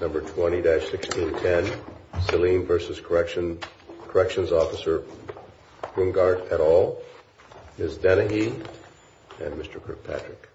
Number 20-1610, Saleemvs.Corrections Officer Brungartetal, Ms. Dennehy and Mr. Kirkpatrick.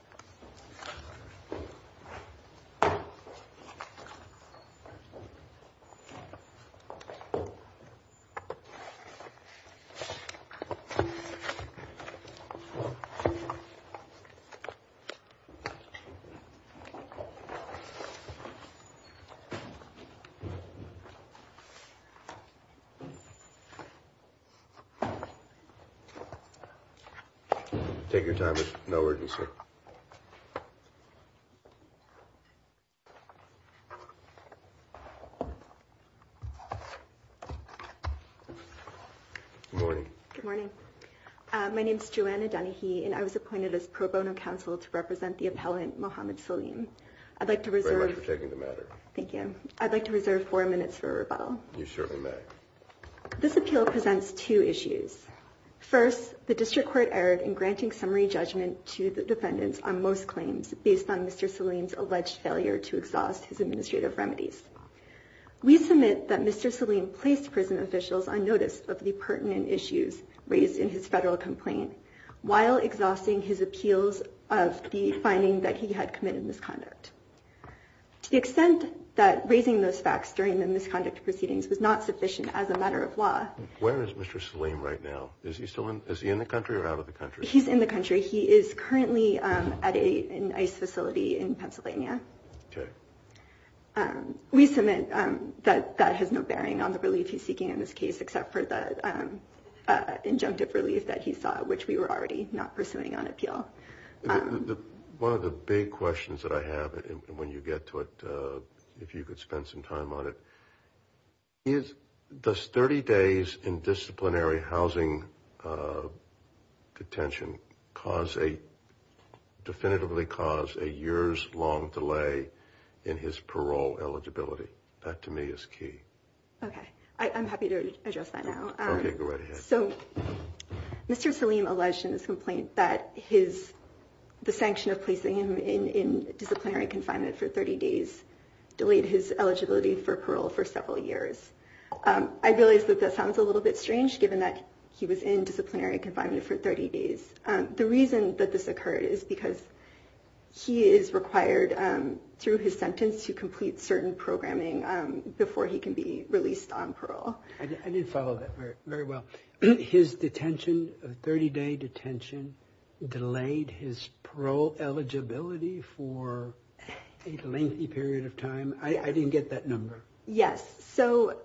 Take your time, there's no urgency. Good morning. Good morning. My name is Joanna Dennehy and I was appointed as pro bono counsel to represent the appellant Mohamed Saleem. I'd like to reserve four minutes for rebuttal. You certainly may. This appeal presents two issues. First, the district court erred in granting summary judgment to the defendants on most claims based on Mr. Saleem's alleged failure to exhaust his administrative remedies. We submit that Mr. Saleem placed prison officials on notice of the pertinent issues raised in his federal complaint while exhausting his appeals of the finding that he had committed a misconduct. To the extent that raising those facts during the misconduct proceedings was not sufficient as a matter of law. Where is Mr. Saleem right now? Is he still in the country or out of the country? He's in the country. He is currently at an ICE facility in Pennsylvania. Okay. We submit that that has no bearing on the relief he's seeking in this case except for the injunctive relief that he saw, which we were already not pursuing on appeal. One of the big questions that I have when you get to it, if you could spend some time on it, is does 30 days in disciplinary housing detention definitively cause a years-long delay in his parole eligibility? That, to me, is key. Okay. I'm happy to address that now. Okay. Go right ahead. So, Mr. Saleem alleged in his complaint that the sanction of placing him in disciplinary confinement for 30 days delayed his eligibility for parole for several years. I realize that that sounds a little bit strange, given that he was in disciplinary confinement for 30 days. The reason that this occurred is because he is required, through his sentence, to complete certain programming before he can be released on parole. I didn't follow that very well. His detention, 30-day detention, delayed his parole eligibility for a lengthy period of time? I didn't get that number. Yes. So,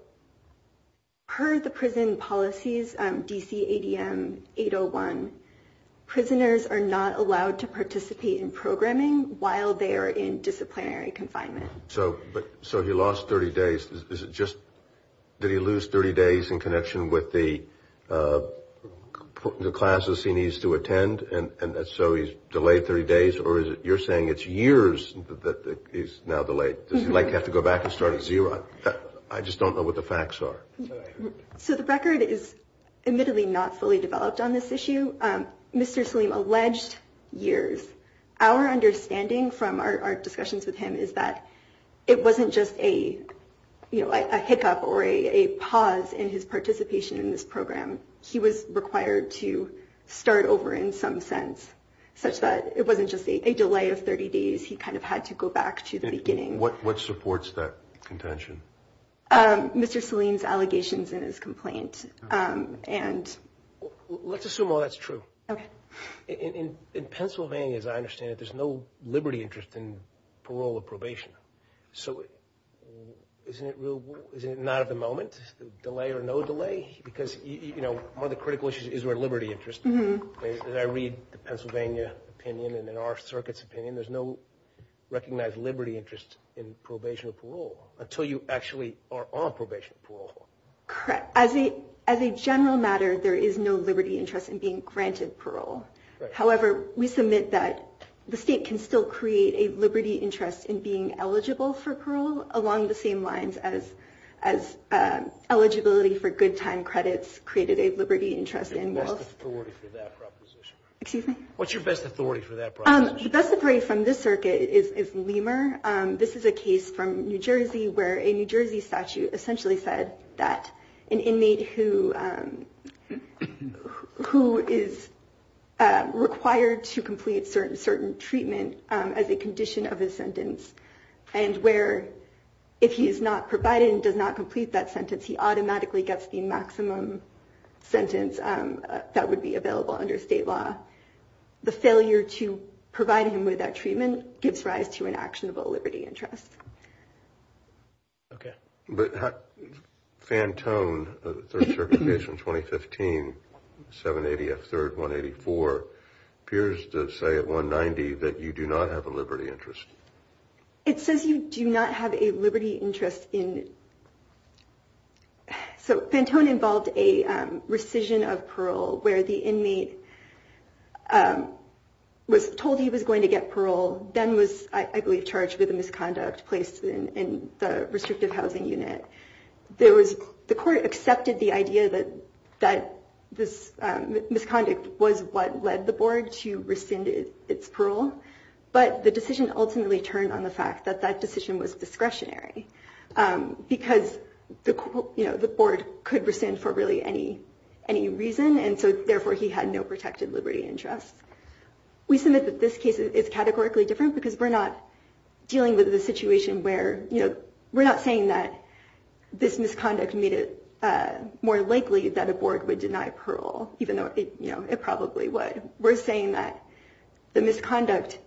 per the prison policies, DC ADM 801, prisoners are not allowed to participate in programming while they are in disciplinary confinement. So, he lost 30 days. Is it just that he lost 30 days in connection with the classes he needs to attend, and so he's delayed 30 days? Or is it you're saying it's years that he's now delayed? Does he have to go back and start at zero? I just don't know what the facts are. So, the record is admittedly not fully developed on this issue. Mr. Saleem alleged years. Our understanding from our discussions with him is that it wasn't just a hiccup or a pause in his participation in this program. He was required to start over in some sense, such that it wasn't just a delay of 30 days. He kind of had to go back to the beginning. What supports that contention? Mr. Saleem's allegations in his complaint. Let's assume all that's true. Okay. In Pennsylvania, as I understand it, there's no liberty interest in parole or probation. So, isn't it not at the moment? Delay or no delay? Because, you know, one of the critical issues is where liberty interest. As I read the Pennsylvania opinion and in our circuit's opinion, there's no recognized liberty interest in probation or parole until you actually are on probation or parole. Correct. As a general matter, there is no liberty interest in being granted parole. However, we submit that the state can still create a liberty interest in being eligible for parole along the same lines as eligibility for good time credits created a liberty interest in both. What's your best authority for that proposition? Excuse me? What's your best authority for that proposition? The best authority from this circuit is Lemur. This is a case from New Jersey where a New Jersey statute essentially said that an inmate who is required to complete certain treatment as a condition of his sentence and where if he is not provided and does not complete that sentence, he automatically gets the maximum sentence that would be available under state law. The failure to provide him with that treatment gives rise to an actionable liberty interest. Okay. But Fantone, the third circuit case from 2015, 780F3-184, appears to say at 190 that you do not have a liberty interest. It says you do not have a liberty interest in. So Fantone involved a rescission of parole where the inmate was told he was going to get parole, then was I believe charged with a misconduct placed in the restrictive housing unit. The court accepted the idea that this misconduct was what led the board to rescind its parole, but the decision ultimately turned on the fact that that decision was discretionary. Because the board could rescind for really any reason and so therefore he had no protected liberty interest. We submit that this case is categorically different because we're not dealing with a situation where, we're not saying that this misconduct made it more likely that a board would deny parole, even though it probably would. We're saying that the misconduct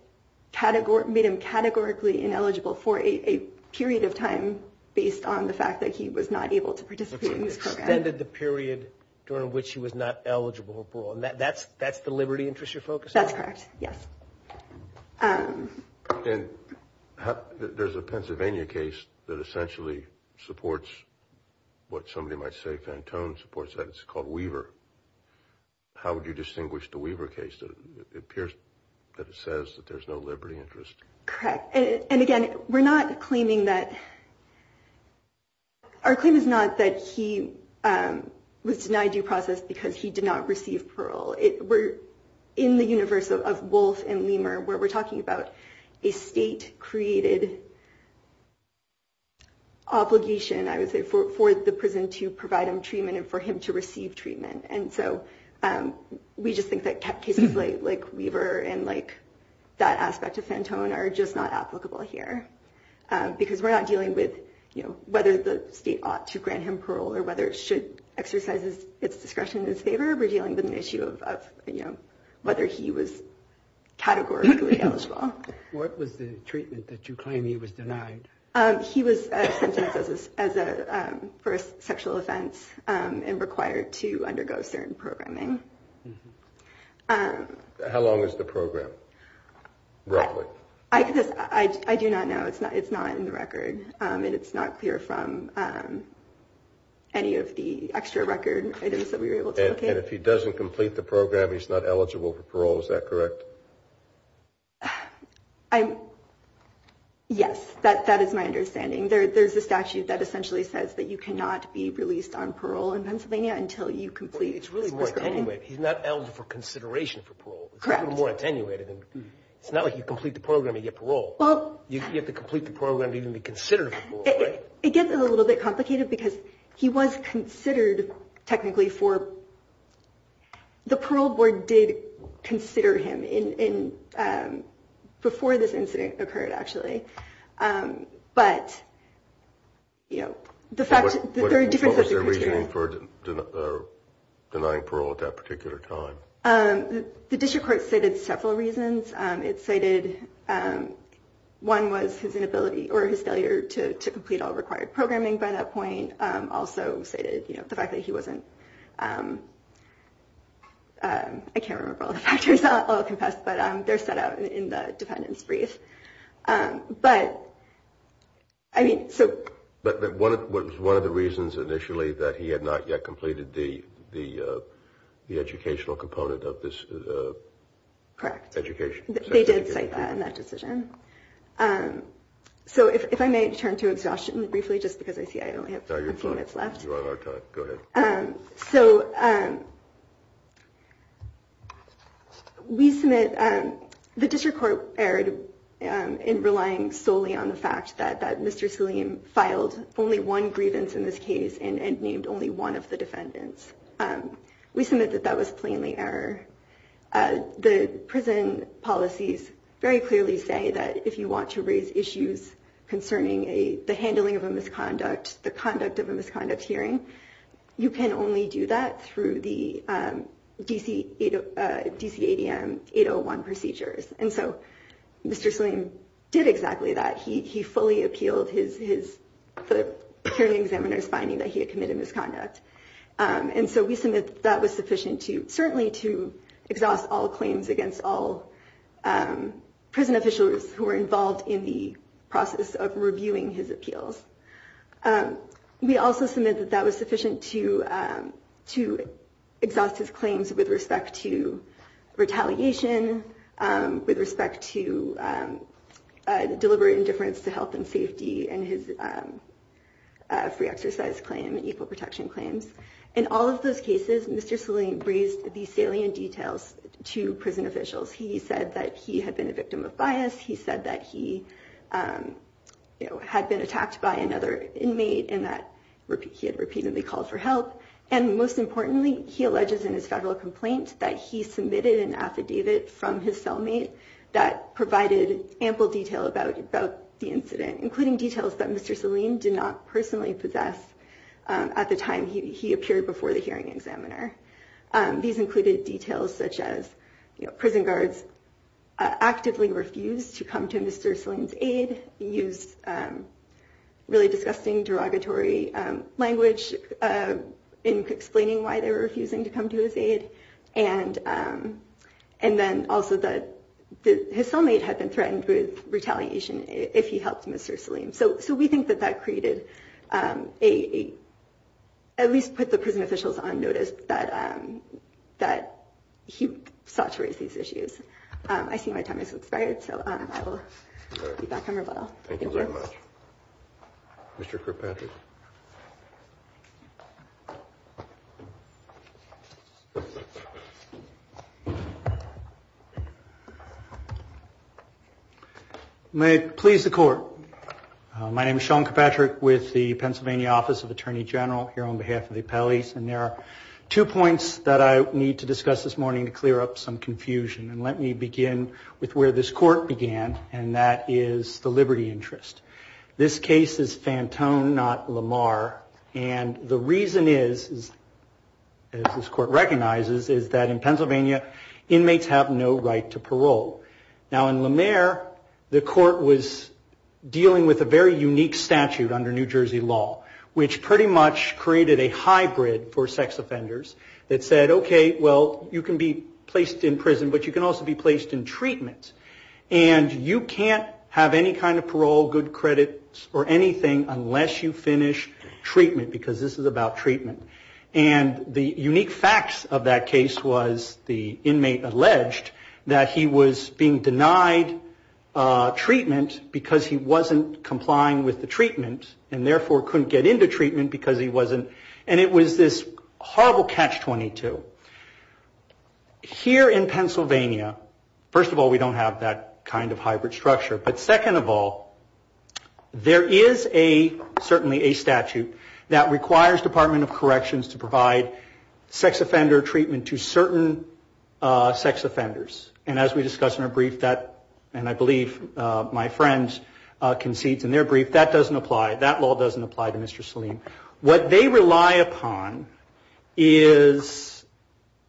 made him categorically ineligible for a period of time based on the fact that he was not able to participate in this program. Extended the period during which he was not eligible for parole. That's the liberty interest you're focusing on? That's correct, yes. There's a Pennsylvania case that essentially supports what somebody might say Fantone supports, that it's called Weaver. How would you distinguish the Weaver case? It appears that it says that there's no liberty interest. Correct. And again, we're not claiming that, our claim is not that he was denied due process because he did not receive parole. We're in the universe of Wolf and Leamer where we're talking about a state-created obligation, I would say, for the prison to provide him treatment and for him to receive treatment. And so we just think that cases like Weaver and that aspect of Fantone are just not applicable here. Because we're not dealing with whether the state ought to grant him parole or whether it should exercise its discretion in his favor. We're dealing with an issue of whether he was categorically eligible. What was the treatment that you claim he was denied? He was sentenced for a sexual offense and required to undergo certain programming. How long is the program, roughly? I do not know. It's not in the record, and it's not clear from any of the extra record items that we were able to locate. And if he doesn't complete the program, he's not eligible for parole, is that correct? Yes, that is my understanding. There's a statute that essentially says that you cannot be released on parole in Pennsylvania until you complete. It's really more attenuated. He's not eligible for consideration for parole. Correct. It's even more attenuated. It's not like you complete the program, you get parole. You have to complete the program to even be considered for parole, right? It gets a little bit complicated because he was considered technically for – the parole board did consider him before this incident occurred, actually. But, you know, the fact that there are different – What was their reasoning for denying parole at that particular time? The district court cited several reasons. It cited – one was his inability or his failure to complete all required programming by that point. It also cited the fact that he wasn't – I can't remember all the factors. I'll confess. But they're set out in the defendant's brief. But, I mean, so – But one of the reasons initially that he had not yet completed the educational component of this – Correct. Education. They did cite that in that decision. So if I may turn to exhaustion briefly just because I see I only have – No, you're fine. You have our time. Go ahead. So we submit – the district court erred in relying solely on the fact that Mr. Salim filed only one grievance in this case and named only one of the defendants. We submit that that was plainly error. The prison policies very clearly say that if you want to raise issues concerning the handling of a misconduct, the conduct of a misconduct hearing, you can only do that through the DCADM 801 procedures. And so Mr. Salim did exactly that. He fully appealed his – the hearing examiner's finding that he had committed misconduct. And so we submit that was sufficient to – certainly to exhaust all claims against all prison officials who were involved in the process of reviewing his appeals. We also submit that that was sufficient to exhaust his claims with respect to retaliation, with respect to deliberate indifference to health and safety and his free exercise claim, equal protection claims. In all of those cases, Mr. Salim raised the salient details to prison officials. He said that he had been a victim of bias. He said that he had been attacked by another inmate and that he had repeatedly called for help. And most importantly, he alleges in his federal complaint that he submitted an affidavit from his cellmate that provided ample detail about the incident, including details that Mr. Salim did not personally possess at the time he appeared before the hearing examiner. These included details such as prison guards actively refused to come to Mr. Salim's aid, used really disgusting derogatory language in explaining why they were refusing to come to his aid, and then also that his cellmate had been threatened with retaliation if he helped Mr. Salim. So we think that that created a—at least put the prison officials on notice that he sought to raise these issues. I see my time has expired, so I will be back on rebuttal. Thank you very much. Mr. Kirkpatrick. May it please the court. My name is Sean Kirkpatrick with the Pennsylvania Office of Attorney General here on behalf of the appellees, and there are two points that I need to discuss this morning to clear up some confusion. And let me begin with where this court began, and that is the liberty interest. This case is fantone, not liberty. And the reason is, as this court recognizes, is that in Pennsylvania inmates have no right to parole. Now, in Lamar, the court was dealing with a very unique statute under New Jersey law, which pretty much created a hybrid for sex offenders that said, okay, well, you can be placed in prison, but you can also be placed in treatment. And you can't have any kind of parole, good credits, or anything unless you finish treatment, because this is about treatment. And the unique facts of that case was the inmate alleged that he was being denied treatment because he wasn't complying with the treatment, and therefore couldn't get into treatment because he wasn't. And it was this horrible catch-22. Here in Pennsylvania, first of all, we don't have that kind of hybrid structure, but second of all, there is a, certainly a statute that requires Department of Corrections to provide sex offender treatment to certain sex offenders. And as we discussed in our brief, and I believe my friend concedes in their brief, that doesn't apply, that law doesn't apply to Mr. Salim. What they rely upon is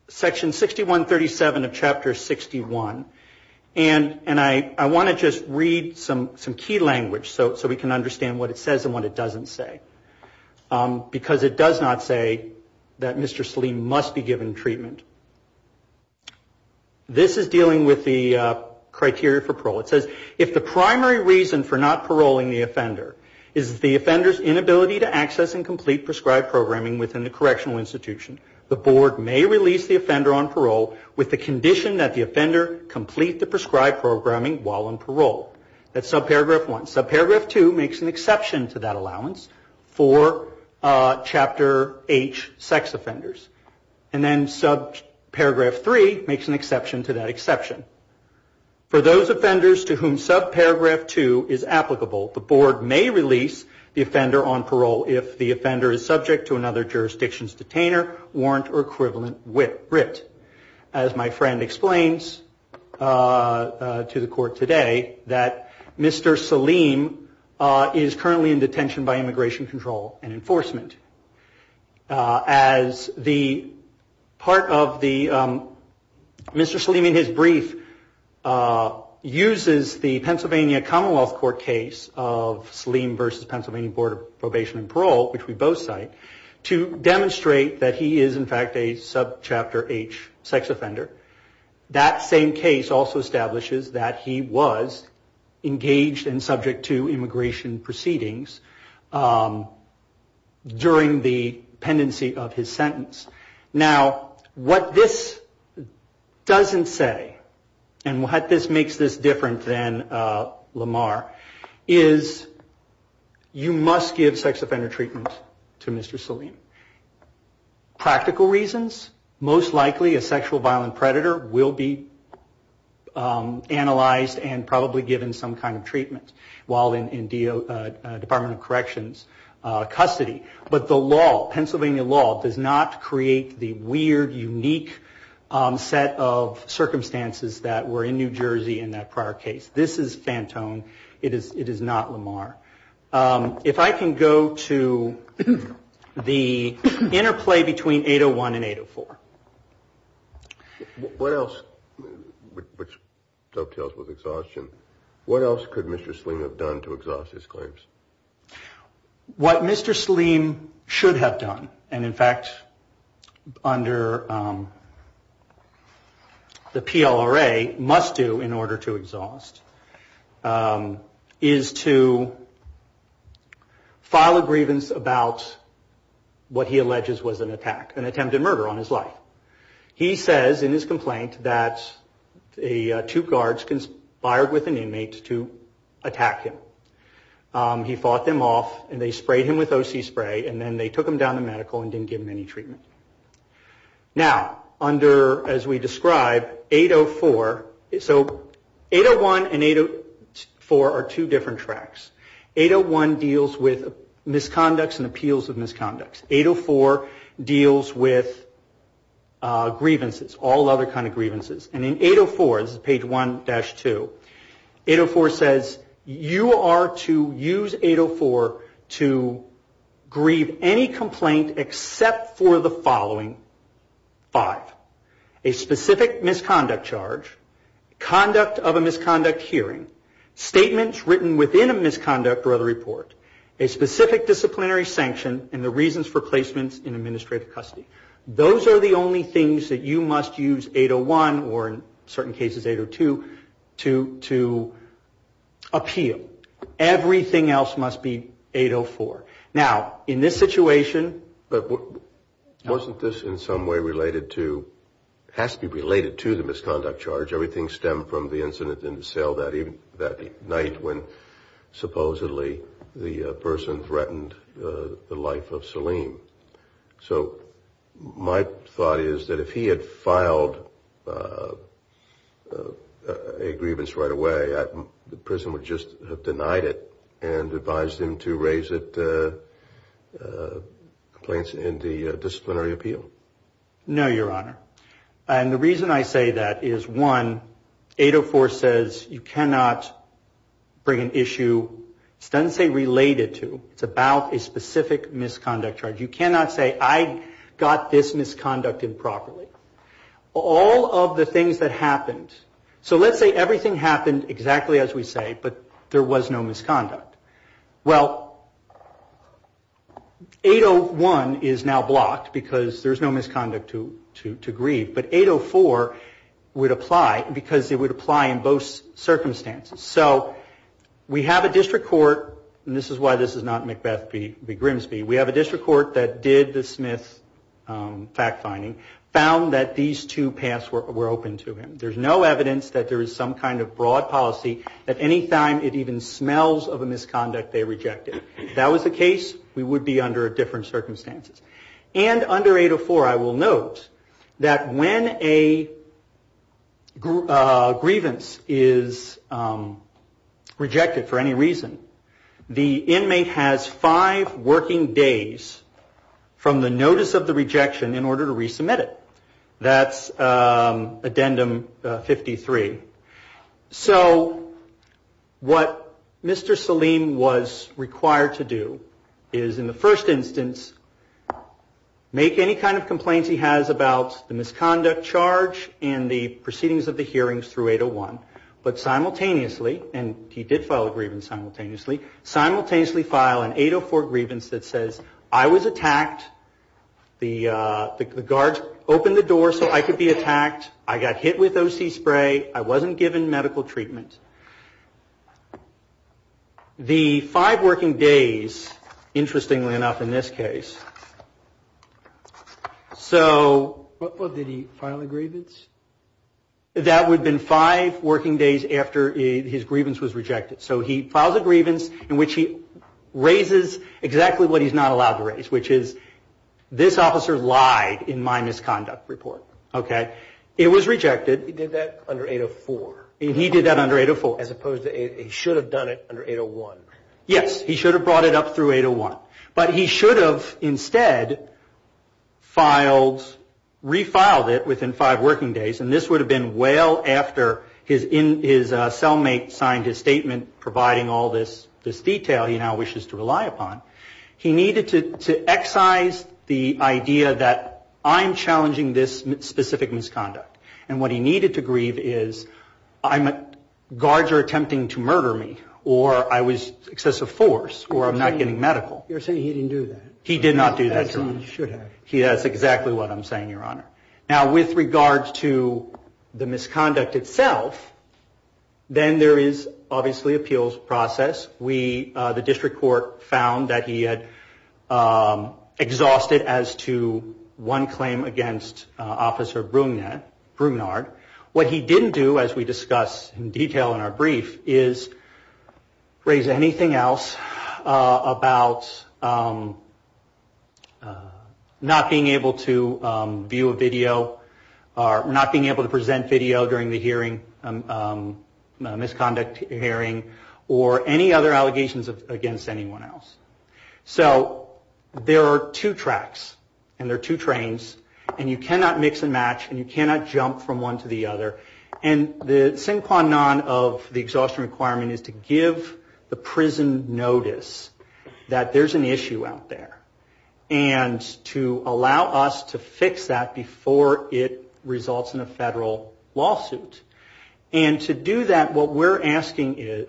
Section 6137 of Chapter 61, and I want to just read some key language so we can understand what it says and what it doesn't say. Because it does not say that Mr. Salim must be given treatment. This is dealing with the criteria for parole. It says, if the primary reason for not paroling the offender is the offender's inability to access and complete prescribed programming within the correctional institution, the board may release the offender on parole with the condition that the offender complete the prescribed programming while on parole. That's Subparagraph 1. Subparagraph 2 makes an exception to that allowance for Chapter H sex offenders. And then Subparagraph 3 makes an exception to that exception. For those offenders to whom Subparagraph 2 is applicable, the board may release the offender on parole if the offender is subject to another jurisdiction's detainer, warrant, or equivalent writ. As my friend explains to the court today, that Mr. Salim is currently in detention by Immigration Control and Enforcement. As the part of the Mr. Salim in his brief uses the Pennsylvania Commonwealth Court case of Salim versus Pennsylvania Board of Probation and Parole, which we both cite, to demonstrate that he is, in fact, a Subchapter H sex offender. That same case also establishes that he was engaged and subject to immigration proceedings during the pendency of his sentence. Now, what this doesn't say, and what makes this different than Lamar, is you must give sex offender treatment to Mr. Salim. Practical reasons, most likely a sexual violent predator will be analyzed and probably given some kind of treatment while in Department of Corrections custody. But the law, Pennsylvania law, does not create the weird, unique set of circumstances that were in New Jersey in that prior case. This is Fantone. It is not Lamar. If I can go to the interplay between 801 and 804. What else, which dovetails with exhaustion, what else could Mr. Salim have done to exhaust his claims? What Mr. Salim should have done, and in fact under the PLRA must do in order to exhaust, is to file a grievance about what he alleges was an attack, an attempted murder on his life. He says in his complaint that two guards conspired with an inmate to attack him. He fought them off and they sprayed him with OC spray and then they took him down to medical and didn't give him any treatment. Now, under, as we described, 804, so 801 and 804 are two different tracks. 801 deals with misconducts and appeals of misconducts. 804 deals with grievances, all other kind of grievances. And in 804, this is page 1-2, 804 says you are to use 804 to grieve any complaint except for the following five. A specific misconduct charge, conduct of a misconduct hearing, statements written within a misconduct or other report, a specific disciplinary sanction, and the reasons for placements in administrative custody. Those are the only things that you must use 801 or in certain cases 802 to appeal. Everything else must be 804. Now, in this situation. But wasn't this in some way related to, has to be related to the misconduct charge. Everything stemmed from the incident in the cell that night when supposedly the person threatened the life of Salim. So my thought is that if he had filed a grievance right away, the prison would just have denied it and advised him to raise it, complaints in the disciplinary appeal. No, Your Honor. And the reason I say that is, one, 804 says you cannot bring an issue, it doesn't say related to, it's about a specific misconduct charge. You cannot say I got this misconducted properly. All of the things that happened, so let's say everything happened exactly as we say, but there was no misconduct. Well, 801 is now blocked because there's no misconduct to grieve. But 804 would apply because it would apply in both circumstances. So we have a district court, and this is why this is not McBeth v. Grimsby. We have a district court that did the Smith fact finding, found that these two paths were open to him. There's no evidence that there is some kind of broad policy that any time it even smells of a misconduct, they reject it. If that was the case, we would be under different circumstances. And under 804, I will note that when a grievance is rejected for any reason, the inmate has five working days from the notice of the rejection in order to resubmit it. That's addendum 53. So what Mr. Saleem was required to do is, in the first instance, make any kind of complaints he has about the misconduct charge and the proceedings of the hearings through 801, but simultaneously, and he did file a grievance simultaneously, simultaneously file an 804 grievance that says, I was attacked, the guards opened the door so I could be attacked, I got hit with O.C. spray, I wasn't given medical treatment. The five working days, interestingly enough in this case, so... Did he file a grievance? That would have been five working days after his grievance was rejected. So he files a grievance in which he raises exactly what he's not allowed to raise, which is, this officer lied in my misconduct report. It was rejected. He did that under 804? He did that under 804. He should have done it under 801. Yes, he should have brought it up through 801, but he should have instead filed, refiled it within five working days, and this would have been well after his cellmate signed his statement providing all this detail he now wishes to rely upon. He needed to excise the idea that I'm challenging this specific misconduct, and what he needed to grieve is, guards are attempting to murder me, or I was excessive force, or I'm not getting medical. You're saying he didn't do that. He did not do that, Your Honor. He should have. That's exactly what I'm saying, Your Honor. Now, with regards to the misconduct itself, then there is obviously appeals process. The district court found that he had exhausted as to one claim against Officer Brunard. What he didn't do, as we discuss in detail in our brief, is raise anything else about not being able to view a video, or not being able to present video during the hearing, misconduct hearing, or any other allegations against anyone else. There are two tracks, and there are two trains, and you cannot mix and match, and you cannot jump from one to the other, and the sin qua non of the exhaustion requirement is to give the prison notice that there's an issue out there, and to allow us to fix that before it results in a federal lawsuit. And to do that, what we're asking is,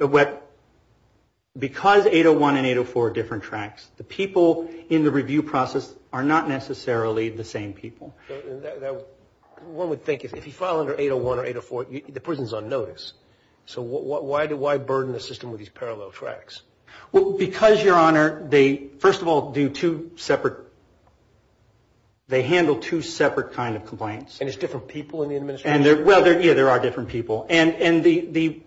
because 801 and 804 are different tracks, the people in the review process are not necessarily the same people. One would think, if you file under 801 or 804, the prison's on notice. So why burden a system with these parallel tracks? Because, Your Honor, they, first of all, do two separate, they handle two separate kind of complaints. And it's different people in the administration? Yeah, there are different people. And the,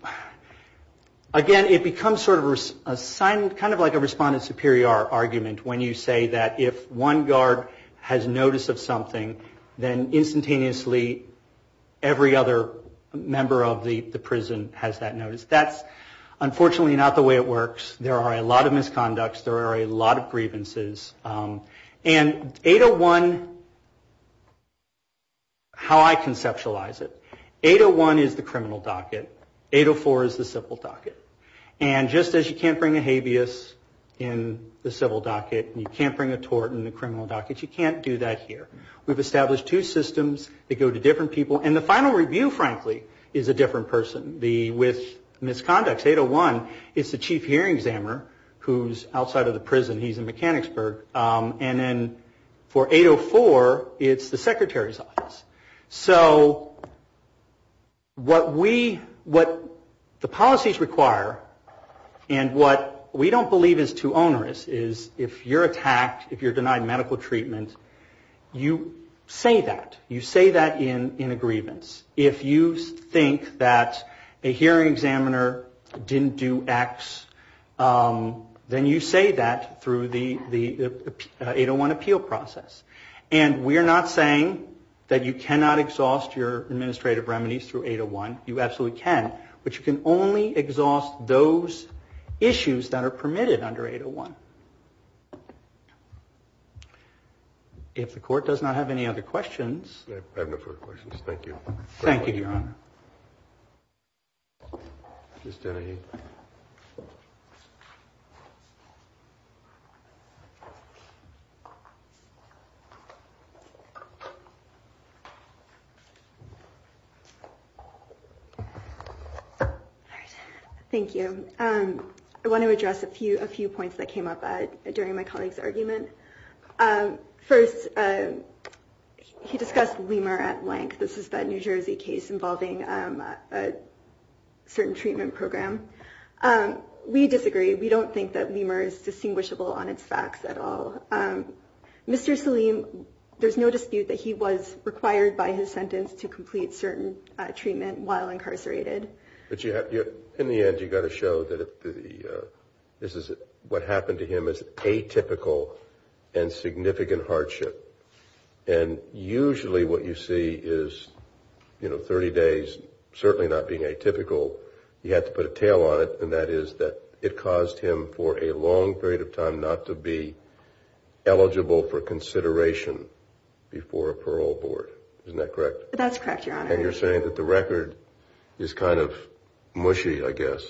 again, it becomes sort of a, kind of like a respondent superior argument when you say that if one guard has notice of something, then instantaneously every other member of the prison has that notice. That's unfortunately not the way it works. There are a lot of misconducts, there are a lot of grievances, and 801, how I conceptualize it, 801 is the criminal docket, 804 is the civil docket. And just as you can't bring a habeas in the civil docket, and you can't bring a tort in the criminal docket, you can't do that here. We've established two systems that go to different people. And the final review, frankly, is a different person. With misconducts, 801 is the chief hearing examiner who's outside of the prison. He's in Mechanicsburg. And then for 804, it's the secretary's office. So what the policies require, and what we don't believe is too onerous, is if you're attacked, if you're denied medical treatment, you say that. You say that in a grievance. If you think that a hearing examiner didn't do X, then you say that through the 801 appeal process. And we're not saying that you cannot exhaust your administrative remedies through 801. You absolutely can, but you can only exhaust those issues that are permitted under 801. If the court does not have any other questions. I have no further questions. Thank you. Thank you, Your Honor. Thank you. I want to address a few points that came up during my colleague's argument. First, he discussed Lemur at length. This is that New Jersey case involving a certain treatment program. We disagree. We don't think that Lemur is distinguishable on its facts at all. Mr. Saleem, there's no dispute that he was required by his sentence to complete certain treatment while incarcerated. But in the end, you've got to show that this is what happened to him as atypical and significant hardship. And usually what you see is 30 days, certainly not being atypical, you have to put a tail on it, and that is that it caused him for a long period of time not to be eligible for consideration before a parole board. Isn't that correct? That's correct, Your Honor. And you're saying that the record is kind of mushy, I guess,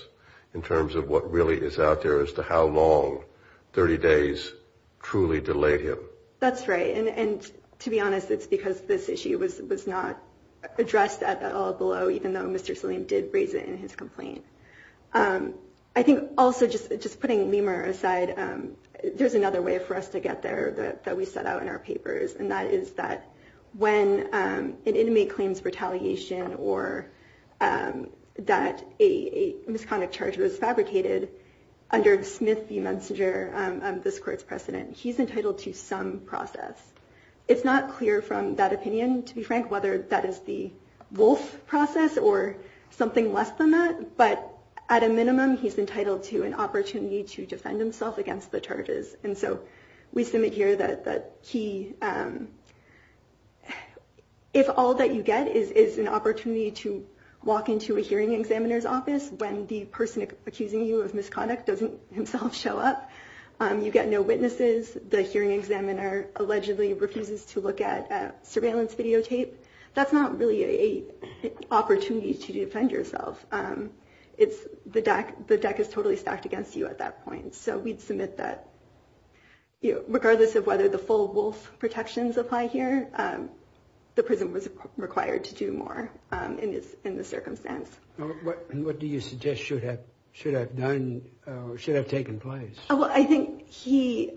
in terms of what really is out there as to how long 30 days truly delayed him. That's right. And to be honest, it's because this issue was not addressed at all below, even though Mr. Saleem did raise it in his complaint. I think also, just putting Lemur aside, there's another way for us to get there that we set out in our papers, and that is that when an inmate claims retaliation or that a misconduct charge was fabricated, under Smith v. Mencinger, this court's precedent, he's entitled to some process. It's not clear from that opinion, to be frank, whether that is the wolf process or something less than that, but at a minimum, he's entitled to an opportunity to defend himself against the charges. And so we submit here that if all that you get is an opportunity to walk into a hearing examiner's office when the person accusing you of misconduct doesn't himself show up, you get no witnesses, the hearing examiner allegedly refuses to look at surveillance videotape, that's not really an opportunity to defend yourself. The deck is totally stacked against you at that point. So we'd submit that regardless of whether the full wolf protections apply here, the prison was required to do more in this circumstance. What do you suggest should have done or should have taken place? Well, I think he...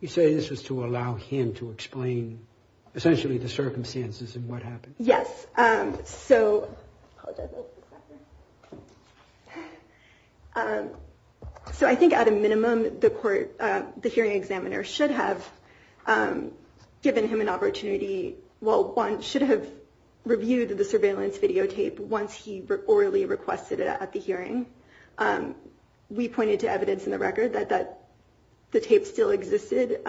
You say this was to allow him to explain, essentially, the circumstances and what happened. Yes, so... At a minimum, the hearing examiner should have given him an opportunity... Well, one should have reviewed the surveillance videotape once he orally requested it at the hearing. We pointed to evidence in the record that the tape still existed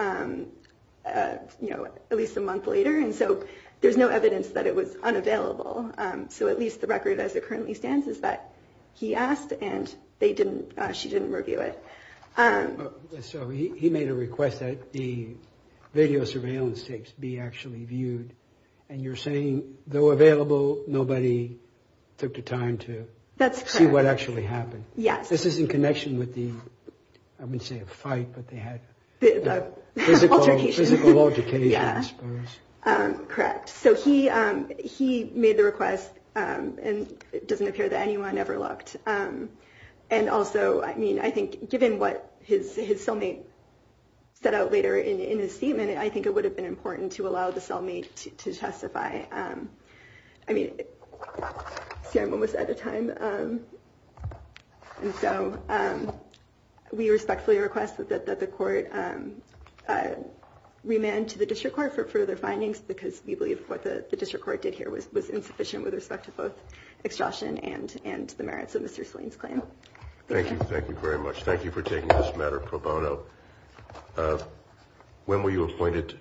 at least a month later, and so there's no evidence that it was unavailable. So at least the record as it currently stands is that he asked and she didn't review it. So he made a request that the video surveillance tapes be actually viewed, and you're saying, though available, nobody took the time to see what actually happened. Yes. This is in connection with the... I wouldn't say a fight, but they had... Physical altercation. Physical altercation, I suppose. Correct. So he made the request, and it doesn't appear that anyone ever looked. And also, I mean, I think given what his cellmate set out later in his statement, I think it would have been important to allow the cellmate to testify. I mean... See, I'm almost out of time. And so... We respectfully request that the court remand to the district court for further findings because we believe what the district court did here was insufficient with respect to both extortion and the merits of Mr. Saline's claim. Thank you. Thank you very much. Thank you for taking this matter pro bono. When were you appointed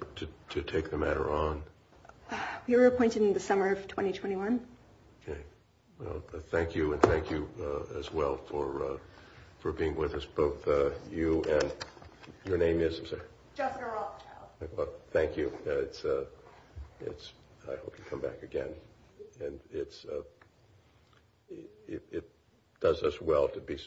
to take the matter on? We were appointed in the summer of 2021. Okay. Well, thank you, and thank you as well for being with us. Both you and... Your name is? Jessica Rothschild. Thank you. It's... I hope you come back again. And it's... It does us well to be...